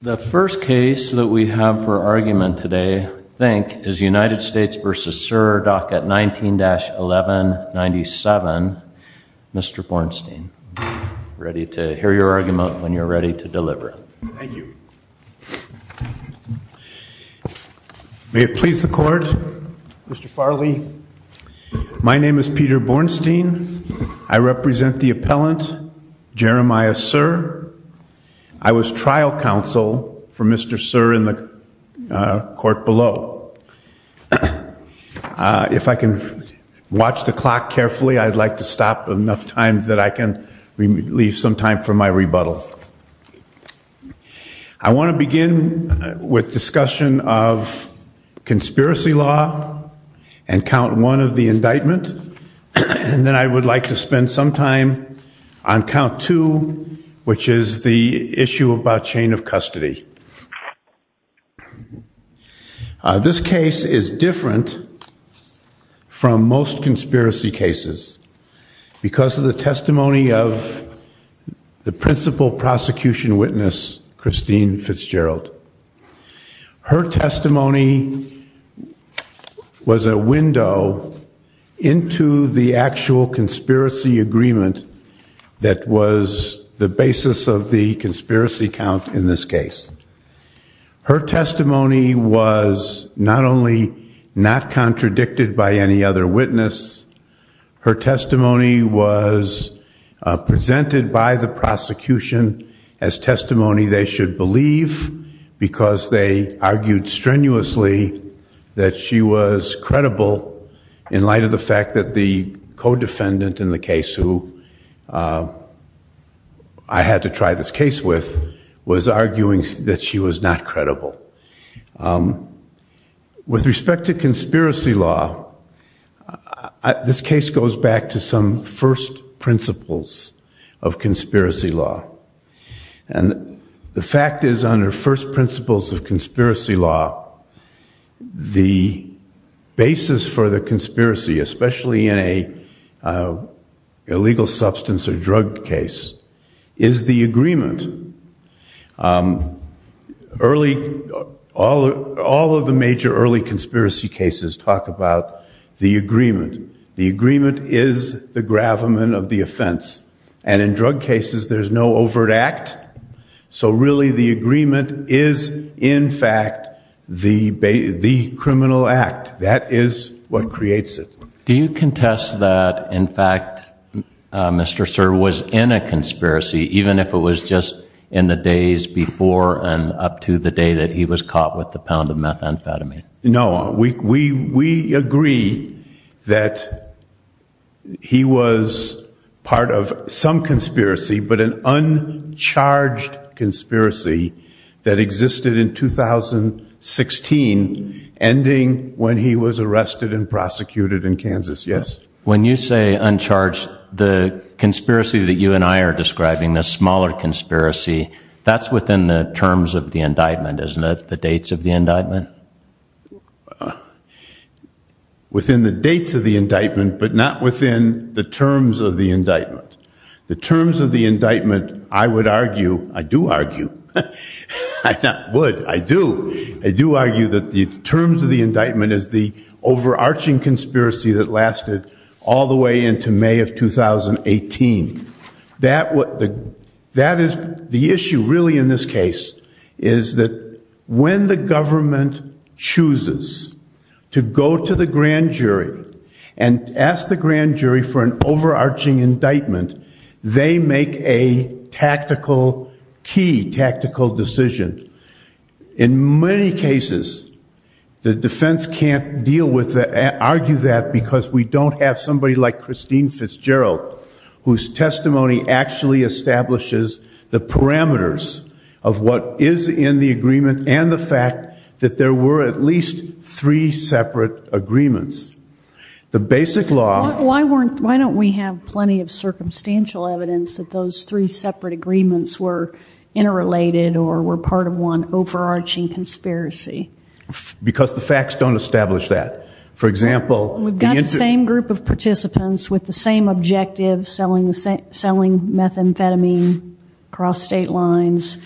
The first case that we have for argument today, I think, is United States v. Serr, docket 19-1197. Mr. Bornstein. Ready to hear your argument when you're ready to deliver. Thank you. May it please the court. Mr. Farley, my name is Peter Bornstein. I represent the court below for Mr. Serr in the court below. If I can watch the clock carefully, I'd like to stop enough time that I can leave some time for my rebuttal. I want to begin with discussion of conspiracy law and count one of the indictment. And then I would like to spend some time on count two, which is the issue about chain of custody. This case is different from most conspiracy cases because of the testimony of the principal prosecution witness, Christine Fitzgerald. Her testimony was a window into the actual conspiracy agreement that was the basis of the conspiracy count in this case. Her testimony was not only not contradicted by any other witness, her argued strenuously that she was credible in light of the fact that the co-defendant in the case who I had to try this case with was arguing that she was not credible. With respect to conspiracy law, this the basis for the conspiracy, especially in an illegal substance or drug case, is the agreement. Early, all of the major early conspiracy cases talk about the agreement. The agreement is the gravamen of the offense. And in drug cases there's no overt act. So really the agreement is the criminal act. That is what creates it. Do you contest that, in fact, Mr. Sir, was in a conspiracy, even if it was just in the days before and up to the day that he was caught with the pound of methamphetamine? No. We agree that he was part of some conspiracy, but an uncharged conspiracy that existed in 2016 ending when he was arrested and prosecuted in Kansas, yes. When you say uncharged, the conspiracy that you and I are describing, the smaller conspiracy, that's within the terms of the indictment, isn't it? The dates of the indictment? Within the dates of the indictment, but not within the terms of the indictment. The terms of the indictment, I would argue, I do argue, I not would, I do, I do argue that the terms of the indictment is the overarching conspiracy that lasted all the way into May of 2018. That is the issue really in this case, is that when the government chooses to go to the grand jury and ask the grand jury for an overarching indictment, they make a tactical, key tactical decision. In many cases, the defense can't deal with that, argue that, because we don't have somebody like Christine Fitzgerald, whose testimony actually establishes the parameters of what is in the agreement and the fact that there were at least three separate agreements. The basic law... Why weren't, why don't we have plenty of circumstantial evidence that those three separate agreements were interrelated or were part of one overarching conspiracy? Because the facts don't establish that. For example... We've got the same group of participants with the same objective, selling methamphetamine across state lines.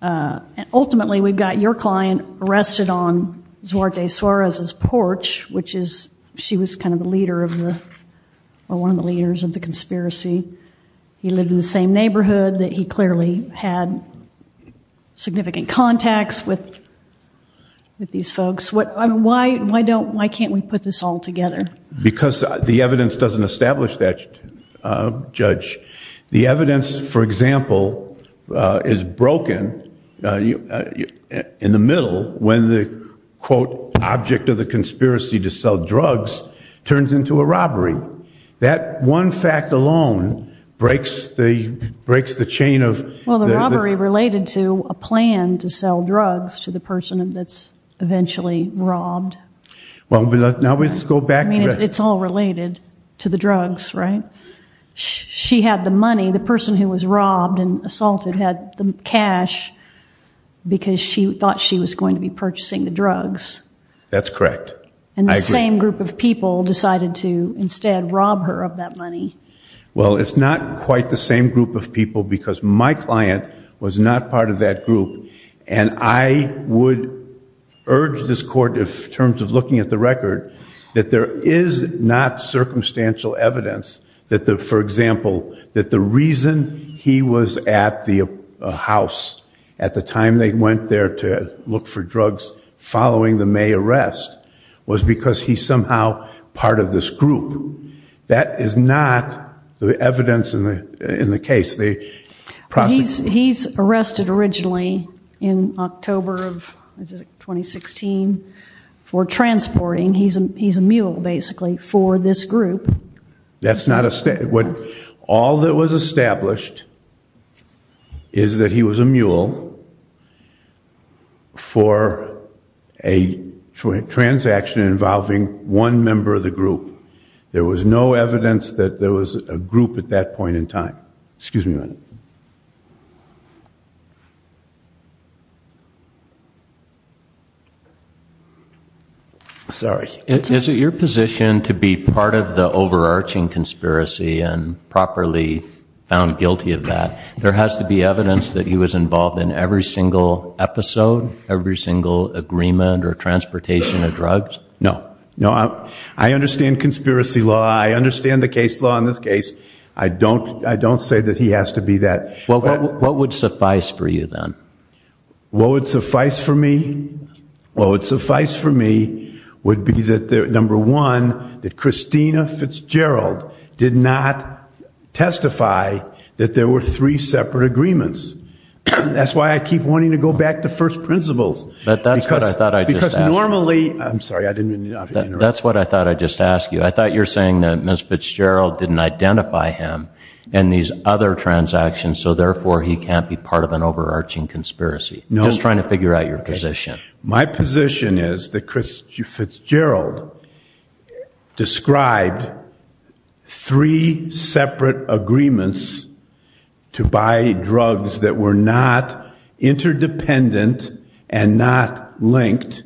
Ultimately, we've got your client arrested on Zuarte Suarez's porch, which is, she was kind of the leader of the, or one of the leaders of the conspiracy. He lived in the same neighborhood that he clearly had significant contacts with these folks. Why can't we put this all together? Because the evidence doesn't establish that, Judge. The evidence, for example, is broken in the middle, when the, quote, object of the conspiracy to sell drugs turns into a robbery. That one fact alone breaks the chain of... Well, the robbery related to a plan to sell drugs to the person that's eventually robbed. Well, now let's go back... I mean, it's all related to the drugs, right? She had the money, the person who was robbed and assaulted had the cash because she thought she was going to be purchasing the drugs. That's correct. I agree. But it's not the same group of people decided to instead rob her of that money. Well, it's not quite the same group of people because my client was not part of that group. And I would urge this Court, in terms of looking at the record, that there is not circumstantial evidence that, for example, that the reason he was at the house at the time they went there to look for drugs following the May arrest, that he was somehow part of this group. That is not the evidence in the case. He's arrested originally in October of 2016 for transporting. He's a mule, basically, for this group. All that was established is that he was a mule for a transaction involving one member of the group. There was no evidence that there was a group at that point in time. Excuse me a minute. Sorry. Is it your position to be part of the overarching conspiracy and properly found guilty of that? There has to be evidence that he was involved in every single episode, every single agreement or transportation of drugs? No. I understand conspiracy law. I understand the case law in this case. I don't say that he has to be that. What would suffice for you, then? What would suffice for me would be, number one, that Christina Fitzgerald did not testify that there were three separate agreements. That's why I keep wanting to go back to first principles. That's what I thought I'd just ask you. I thought you were saying that Ms. Fitzgerald didn't identify him in these other transactions, so therefore he can't be part of an overarching conspiracy. I'm just trying to figure out your position. My position is that Fitzgerald described three separate agreements to buy drugs that were not interdependent and not linked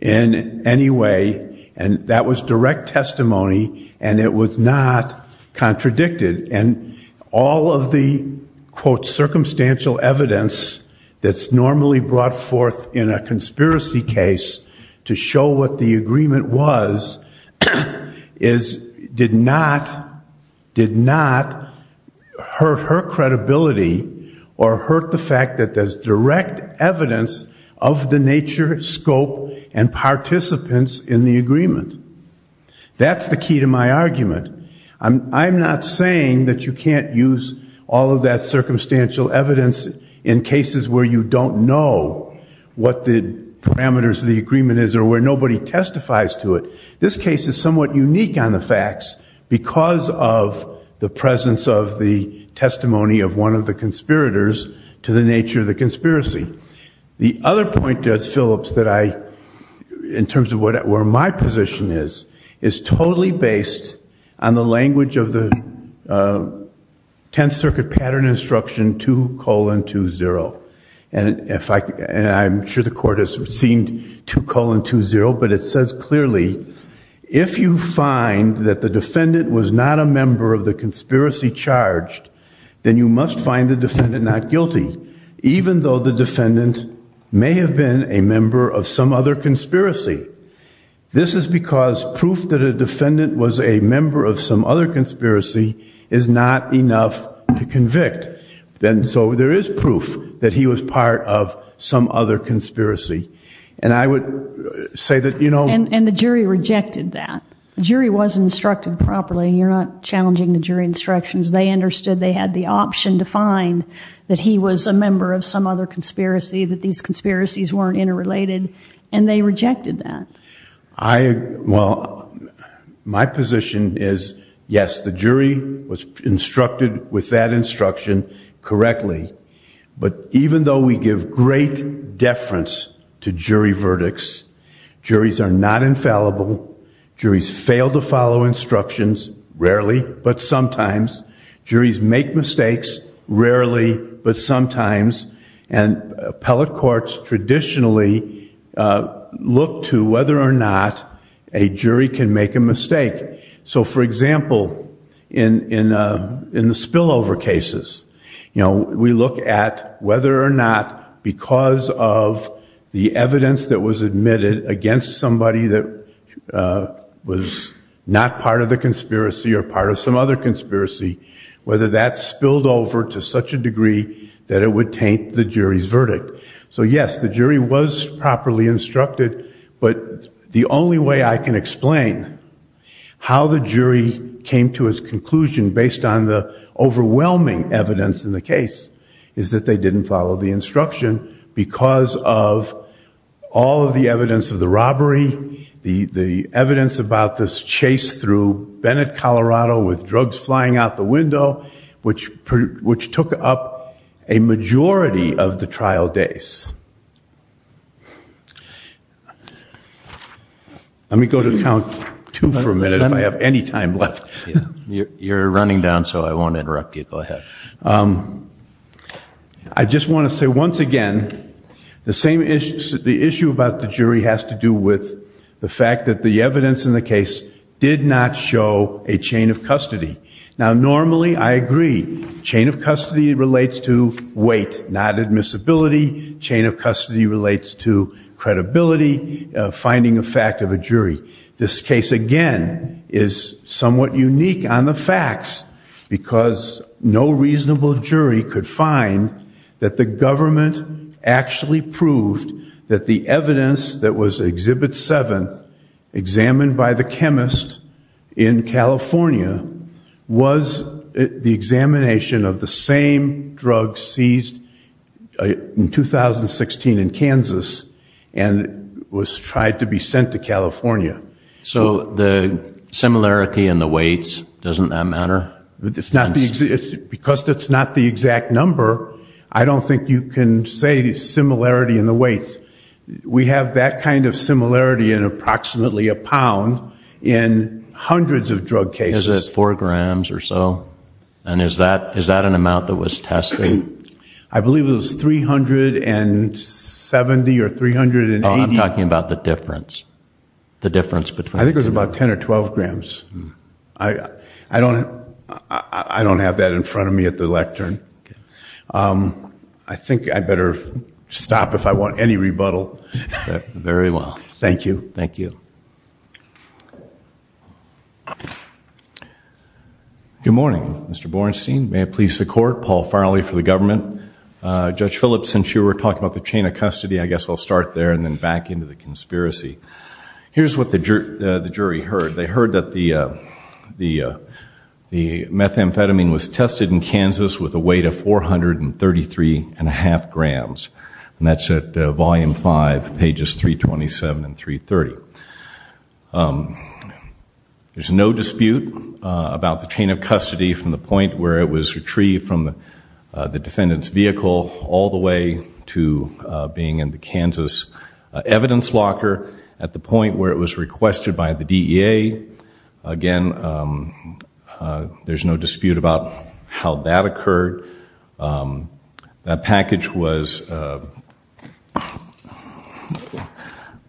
in any way. And that was direct testimony, and it was not contradicted. And all of the, quote, circumstantial evidence that's normally brought forth in a conspiracy case to show what the agreement was is did not hurt her credibility or hurt the fact that there's direct evidence of the nature, scope, and participants in the agreement. That's the key to my argument. I'm not saying that you can't use all of that circumstantial evidence in cases where you don't know what the parameters of the agreement is or where nobody testifies to it. This case is somewhat unique on the facts because of the presence of the testimony of one of the conspirators to the nature of the conspiracy. The other point, Phillips, that I, in terms of where my position is, is totally based on the language of the Tenth Circuit Pattern Instruction 2-2-0. And I'm sure the court has seen 2-2-0, but it says clearly, if you find that the defendant was not a member of the conspiracy charged, then you must find the defendant not guilty, even though the defendant may have been a member of some other conspiracy. This is because proof that a defendant was a member of some other conspiracy is not enough to convict. So there is proof that he was part of some other conspiracy. And I would say that... And the jury rejected that. The jury was instructed properly. You're not challenging the jury instructions. They understood they had the option to find that he was a member of some other conspiracy, that these conspiracies weren't interrelated, and they rejected that. Well, my position is, yes, the jury was instructed with that instruction. But even though we give great deference to jury verdicts, juries are not infallible. Juries fail to follow instructions, rarely, but sometimes. Juries make mistakes, rarely, but sometimes. And appellate courts traditionally look to whether or not a jury can make a mistake. So, for example, in the spillover cases, we look at whether or not because of the evidence that was admitted against somebody that was not part of the conspiracy or part of some other conspiracy, whether that spilled over to such a degree that it would taint the jury's verdict. So, yes, the jury was properly instructed, but the only way I can explain how the jury came to its conclusion based on the overwhelming evidence in the case is that they didn't follow the instruction because of all of the evidence of the robbery, the evidence about this chase through Bennett, Colorado, with drugs flying out the window, which took up a majority of the trial days. Let me go to count two for a minute, if I have any time left. You're running down, so I won't interrupt you. Go ahead. I just want to say, once again, the issue about the jury has to do with the fact that the evidence in the case did not show a chain of custody. Now, normally, I agree, chain of custody relates to weight, not admissibility. Chain of custody relates to credibility, finding a fact of a jury. This case, again, is somewhat unique on the facts because no reasonable jury could find that the government actually proved that the evidence that was Exhibit 7, examined by the chemist in California, was the examination of the same drug seized in 2016 in Kansas and was tried to be sent to California. So the similarity in the weights, doesn't that matter? Because that's not the exact number, I don't think you can say similarity in the weights. We have that kind of similarity in approximately a pound in hundreds of drug cases. Is it 4 grams or so? And is that an amount that was tested? I believe it was 370 or 380. I'm talking about the difference. I think it was about 10 or 12 grams. I don't have that in front of me at the lectern. I think I'd better stop if I want any rebuttal. Thank you. Good morning, Mr. Borenstein. May it please the court. Paul Farley for the government. Judge Phillips, since you were talking about the chain of custody, I guess I'll start there and then back into the conspiracy. Here's what the jury heard. They heard that the methamphetamine was tested in Kansas with a weight of 433.5 grams. And that's at volume 5, pages 327 and 330. There's no dispute about the chain of custody from the point where it was retrieved from the defendant's vehicle all the way to being in the Kansas evidence locker at the point where it was requested by the DEA. Again, there's no dispute about how that occurred. That package was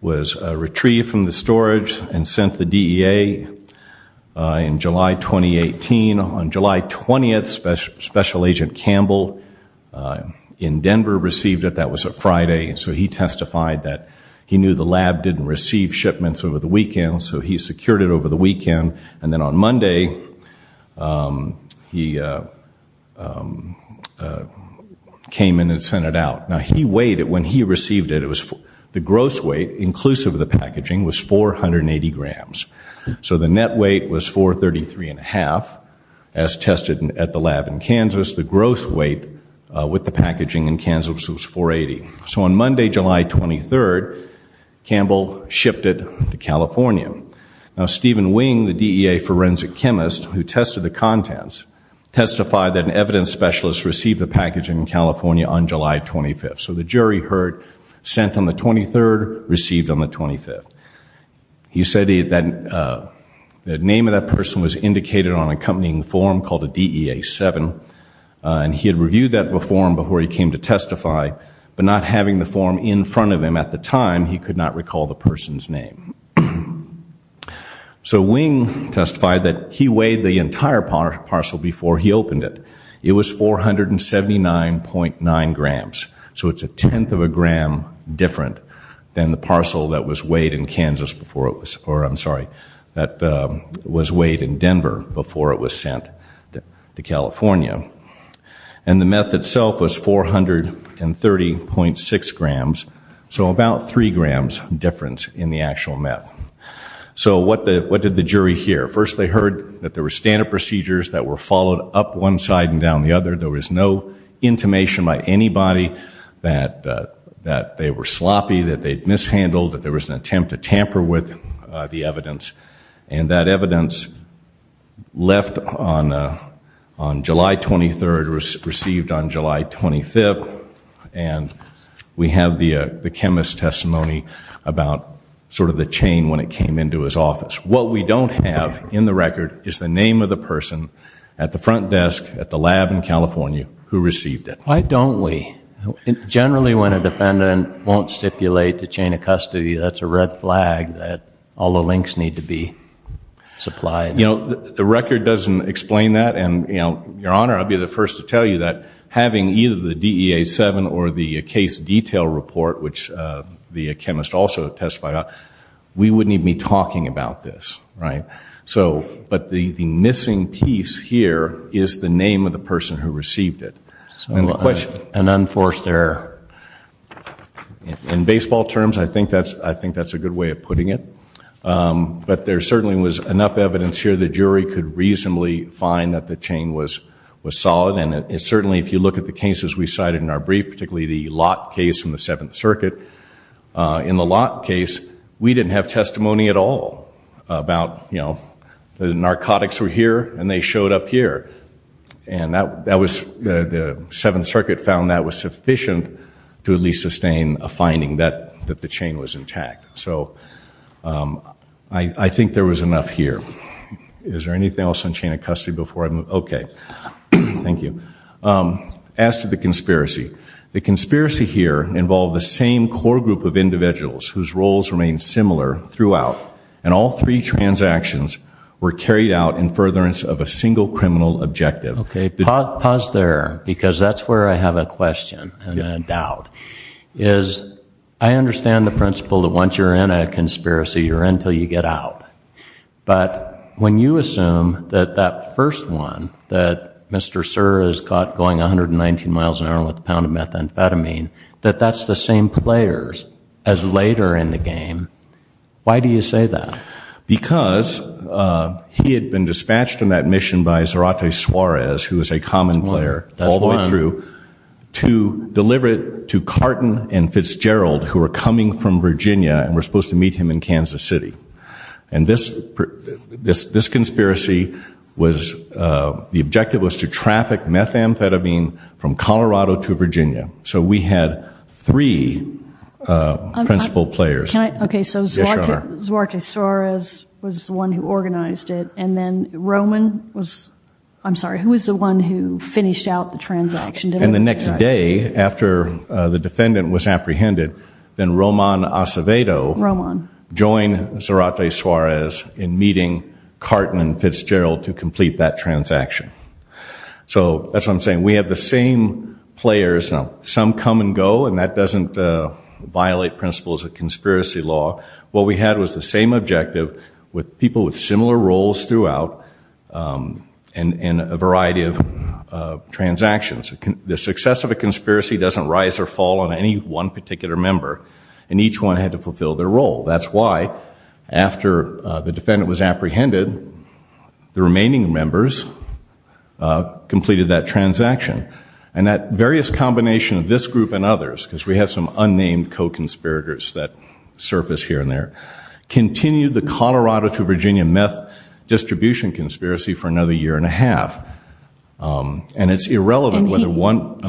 retrieved from the storage and sent the DEA in July 2018. On July 20th, Special Agent Campbell in Denver received it. That was a Friday. So he testified that he knew the lab didn't receive shipments over the weekend, so he secured it over the weekend. And then on Monday, he came in and sent it out. Now, he weighed it when he received it. The gross weight, inclusive of the packaging, was 480 grams. So the net weight was 433.5, as tested at the lab in Kansas. The gross weight with the packaging in Kansas was 480. So on Monday, July 23rd, Campbell shipped it to California. Now, Stephen Wing, the DEA forensic chemist who tested the contents, testified that an evidence specialist received the package in California on July 25th. So the jury heard, sent on the 23rd, received on the 25th. The name of that person was indicated on an accompanying form called a DEA-7. And he had reviewed that form before he came to testify. But not having the form in front of him at the time, he could not recall the person's name. So Wing testified that he weighed the entire parcel before he opened it. It was 479.9 grams. So it's a tenth of a gram different than the parcel that was weighed in Denver before it was sent to California. And the meth itself was 430.6 grams. So about three grams difference in the actual meth. So what did the jury hear? First they heard that there were standard procedures that were followed up one side and down the other. There was no intimation by anybody that they were sloppy, that they'd mishandled, that there was an attempt to tamper with the evidence. And that evidence left on July 23rd, received on July 25th. And we have the chemist's testimony about sort of the chain when it came into his office. What we don't have in the record is the name of the person at the front desk at the lab in California who received it. Why don't we? Generally when a defendant won't stipulate the chain of custody, that's a red flag that all the links need to be made. The record doesn't explain that. Your Honor, I'll be the first to tell you that having either the DEA 7 or the case detail report, which the chemist also testified on, we wouldn't even be talking about this. But the missing piece here is the name of the person who received it. An unforced error. In baseball terms, I think that's a good way of putting it. But there certainly was enough evidence here the jury could reasonably find that the chain was solid. And certainly if you look at the cases we cited in our brief, particularly the Lott case in the Seventh Circuit, in the Lott case, we didn't have testimony at all about, you know, the narcotics were here and they showed up here. And the Seventh Circuit found that was sufficient to at least sustain a finding that the chain was intact. So I think there was enough here. Is there anything else on chain of custody before I move? Okay. Thank you. As to the conspiracy, the conspiracy here involved the same core group of individuals whose roles remained similar throughout. And all three transactions were carried out in furtherance of a single criminal objective. Pause there, because that's where I have a question and a doubt. I understand the principle that once you're in a conspiracy, you're in until you get out. But when you assume that that first one, that Mr. Suhr is caught going 119 miles an hour with a pound of methamphetamine, that that's the same players as later in the game, why do you say that? Because he had been dispatched on that mission by Zarate Suarez, who is a common player, all the way through to deliver it to Carton and Fitzgerald, who were coming from Virginia and were supposed to meet him in Kansas City. And this conspiracy was, the objective was to traffic methamphetamine from Colorado to Virginia. So we had three principal players. Okay, so Zarate Suarez was the one who organized it, and then Roman was, I'm sorry, who was the one who finished out the transaction? And the next day, after the defendant was apprehended, then Roman Acevedo joined Zarate Suarez in meeting Carton and Fitzgerald to complete that transaction. So that's what I'm saying. We have the same players. Now, some come and go, and that doesn't violate principles of conspiracy law. What we had was the same objective with people with similar roles throughout in a variety of transactions. The success of a conspiracy doesn't rise or fall on any one particular member, and each one had to fulfill their role. That's why, after the defendant was apprehended, the remaining members completed that transaction. And that various combination of this group and others, because we have some unnamed co-conspirators that surface here and there, continued the Colorado to Virginia meth distribution conspiracy for another year and a half. And it's irrelevant whether one...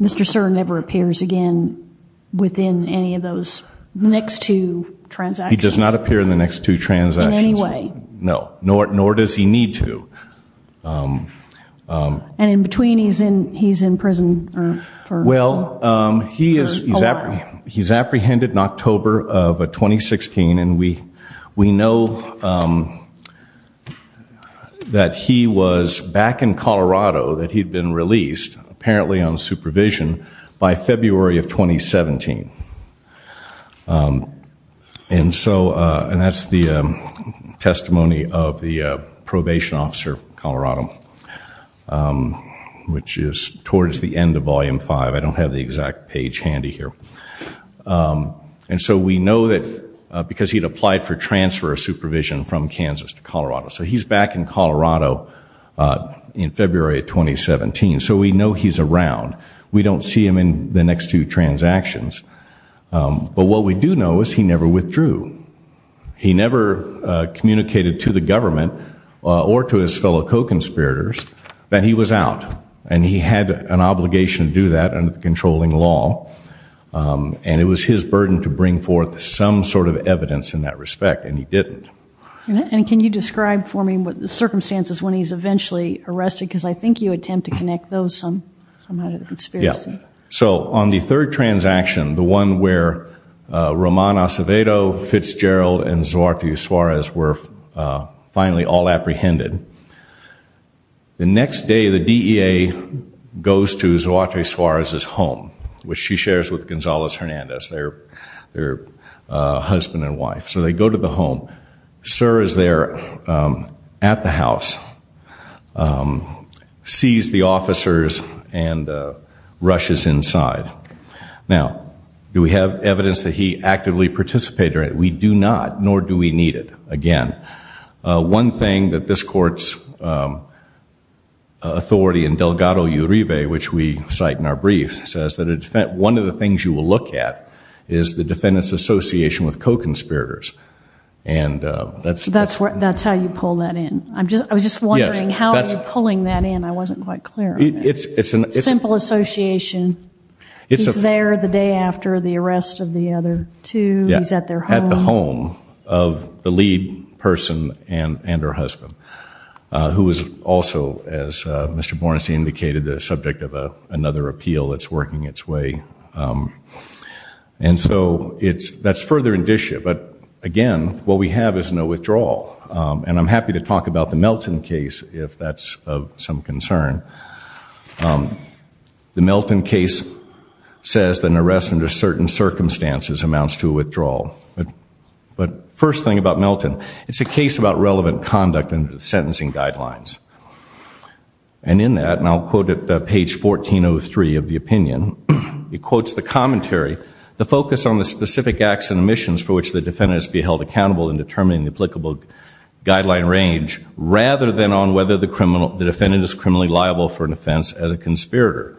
Mr. Sur never appears again within any of those next two transactions. He does not appear in the next two transactions. In any way. No, nor does he need to. And in between, he's in prison for a while. Well, he's apprehended in October of 2016, and we know that he was back in Colorado, that he'd been released, apparently on supervision, by February of 2017. And that's the testimony of the probation officer in Colorado, which is towards the end of Volume 5. I don't have the exact page handy here. And so we know that because he'd applied for transfer of supervision from Kansas to Colorado. So he's back in Colorado in February of 2017. So we know he's around. We don't see him in the next two transactions. But what we do know is he never withdrew. He never communicated to the government or to his fellow co-conspirators that he was out. And he had an obligation to do that under the controlling law. And it was his burden to bring forth some sort of evidence in that respect, and he didn't. And can you describe for me the circumstances when he's eventually arrested? Because I think you attempt to connect those somehow to the conspiracy. Yeah. So on the third transaction, the one where Roman Acevedo, Fitzgerald, and Zuarte Suarez were finally all apprehended, the next day the DEA goes to Zuarte Suarez's home, which she shares with Gonzales Hernandez, their husband and wife. So they go to the home. Suarez is there at the house, sees the officers, and rushes inside. Now, do we have evidence that he actively participated? We do not, nor do we need it. Again, one thing that this court's authority in Delgado Uribe, which we cite in our brief, one of the things you will look at is the defendant's association with co-conspirators. That's how you pull that in. I was just wondering how you're pulling that in. I wasn't quite clear on that. It's a simple association. He's there the day after the arrest of the other two. He's at their home. At the home of the lead person and her husband, who is also, as Mr. Bornstein indicated, the subject of another appeal that's working its way. And so that's further indicia. But, again, what we have is no withdrawal. And I'm happy to talk about the Melton case if that's of some concern. The Melton case says that an arrest under certain circumstances amounts to a withdrawal. But first thing about Melton, it's a case about relevant conduct and sentencing guidelines. And in that, and I'll quote at page 1403 of the opinion, it quotes the commentary, the focus on the specific acts and omissions for which the defendant is to be held accountable in determining the applicable guideline range, rather than on whether the defendant is criminally liable for an offense as a conspirator.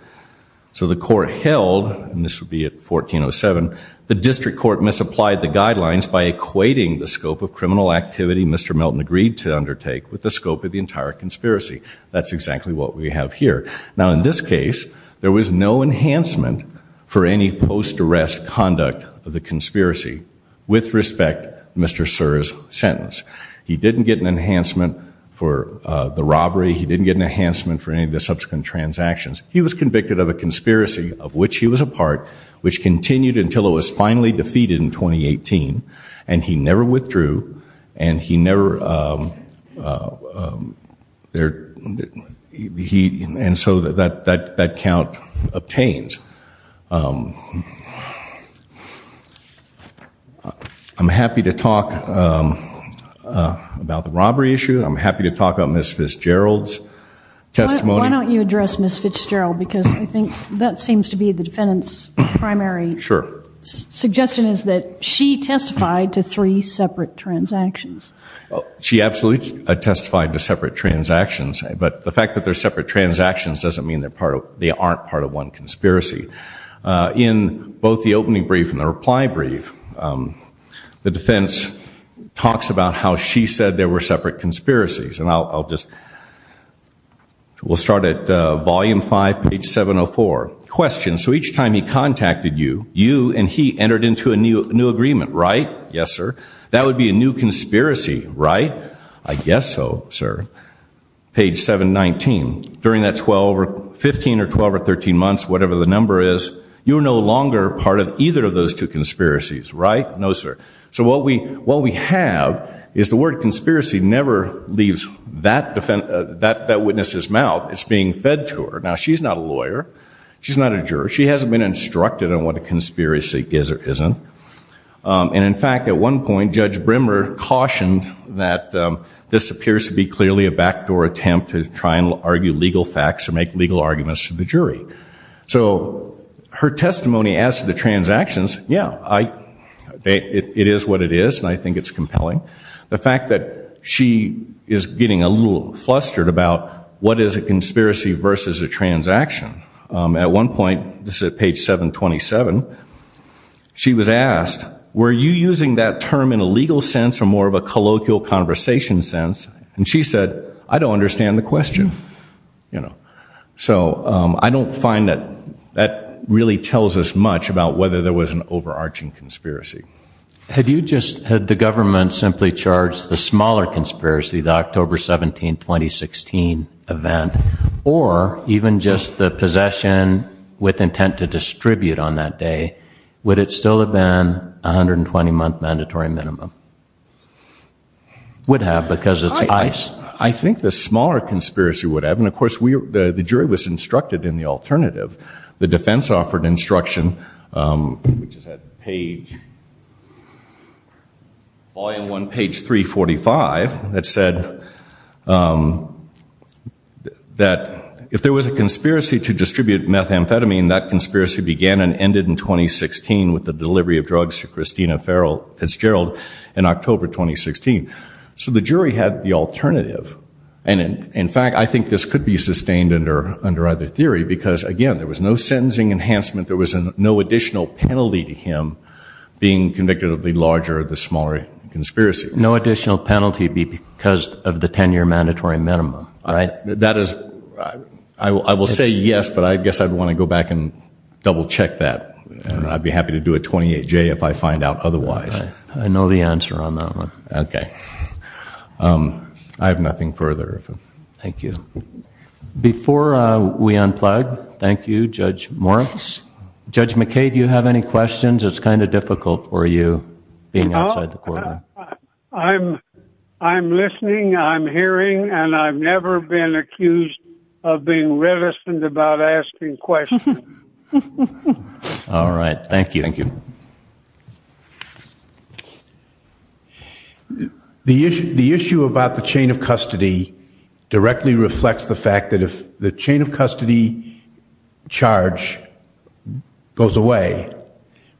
So the court held, and this would be at 1407, the district court misapplied the guidelines by equating the scope of criminal activity Mr. Melton agreed to undertake with the scope of the entire conspiracy. That's exactly what we have here. Now, in this case, there was no enhancement for any post-arrest conduct of the conspiracy with respect to Mr. Suhr's sentence. He didn't get an enhancement for the robbery. He didn't get an enhancement for any of the subsequent transactions. He was convicted of a conspiracy of which he was a part, which continued until it was finally defeated in 2018, and he never withdrew, and he never, and so that count obtains. I'm happy to talk about the robbery issue. I'm happy to talk about Ms. Fitzgerald's testimony. Why don't you address Ms. Fitzgerald because I think that seems to be the defendant's primary suggestion is that she testified to three separate transactions. She absolutely testified to separate transactions, but the fact that they're separate transactions doesn't mean they aren't part of one conspiracy. In both the opening brief and the reply brief, the defense talks about how she said there were separate conspiracies, and I'll just, we'll start at volume five, page 704. Question. So each time he contacted you, you and he entered into a new agreement, right? Yes, sir. That would be a new conspiracy, right? I guess so, sir. Page 719. During that 12 or 15 or 12 or 13 months, whatever the number is, you're no longer part of either of those two conspiracies, right? No, sir. So what we have is the word conspiracy never leaves that witness's mouth. It's being fed to her. Now, she's not a lawyer. She's not a juror. She hasn't been instructed on what a conspiracy is or isn't. And, in fact, at one point Judge Brimmer cautioned that this appears to be clearly a backdoor attempt to try and argue legal facts or make legal arguments to the jury. So her testimony as to the transactions, yeah, it is what it is, and I think it's compelling. The fact that she is getting a little flustered about what is a conspiracy versus a transaction. At one point, this is at page 727, she was asked, were you using that term in a legal sense or more of a colloquial conversation sense? And she said, I don't understand the question. So I don't find that that really tells us much about whether there was an overarching conspiracy. Had you just had the government simply charged the smaller conspiracy, the October 17, 2016 event, or even just the possession with intent to distribute on that day, would it still have been a 120-month mandatory minimum? Would have because it's ICE. I think the smaller conspiracy would have. And, of course, the jury was instructed in the alternative. The defense offered instruction, which is at page, volume 1, page 345, that said that if there was a conspiracy to distribute methamphetamine, that conspiracy began and ended in 2016 with the delivery of drugs to Christina Fitzgerald in October 2016. So the jury had the alternative. And, in fact, I think this could be sustained under either theory because, again, there was no sentencing enhancement. There was no additional penalty to him being convicted of the larger or the smaller conspiracy. No additional penalty because of the 10-year mandatory minimum, right? That is, I will say yes, but I guess I'd want to go back and double-check that. And I'd be happy to do a 28-J if I find out otherwise. I know the answer on that one. Okay. I have nothing further. Thank you. Before we unplug, thank you, Judge Moritz. Judge McKay, do you have any questions? It's kind of difficult for you being outside the courtroom. I'm listening, I'm hearing, and I've never been accused of being reticent about asking questions. All right. Thank you. Thank you. The issue about the chain of custody directly reflects the fact that if the chain of custody charge goes away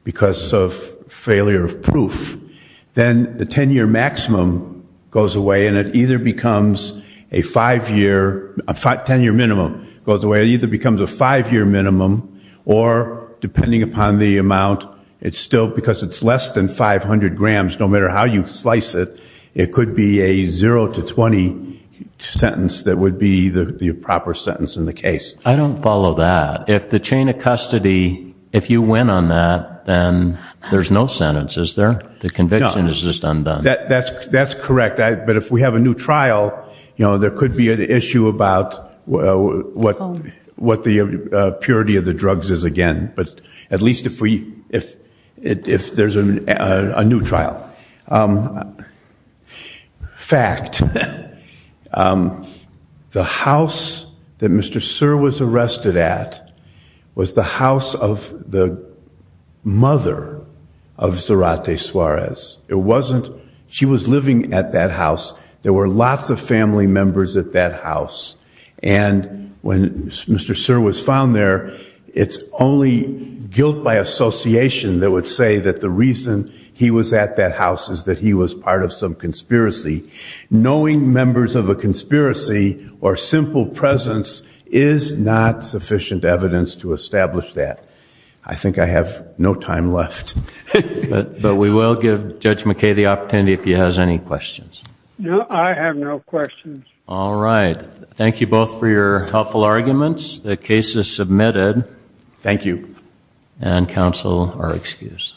because of failure of proof, then the 10-year maximum goes away, and it either becomes a 5-year minimum or, depending upon the amount, because it's less than 500 grams, no matter how you slice it, it could be a 0-20 sentence that would be the proper sentence in the case. I don't follow that. If the chain of custody, if you win on that, then there's no sentence, is there? The conviction is just undone. That's correct. But if we have a new trial, there could be an issue about what the purity of the drugs is again. But at least if there's a new trial. Fact. The house that Mr. Suhr was arrested at was the house of the mother of Zarate Suarez. She was living at that house. And when Mr. Suhr was found there, it's only guilt by association that would say that the reason he was at that house is that he was part of some conspiracy. Knowing members of a conspiracy or simple presence is not sufficient evidence to establish that. I think I have no time left. But we will give Judge McKay the opportunity if he has any questions. No, I have no questions. All right. Thank you both for your helpful arguments. The case is submitted. Thank you. And counsel are excused.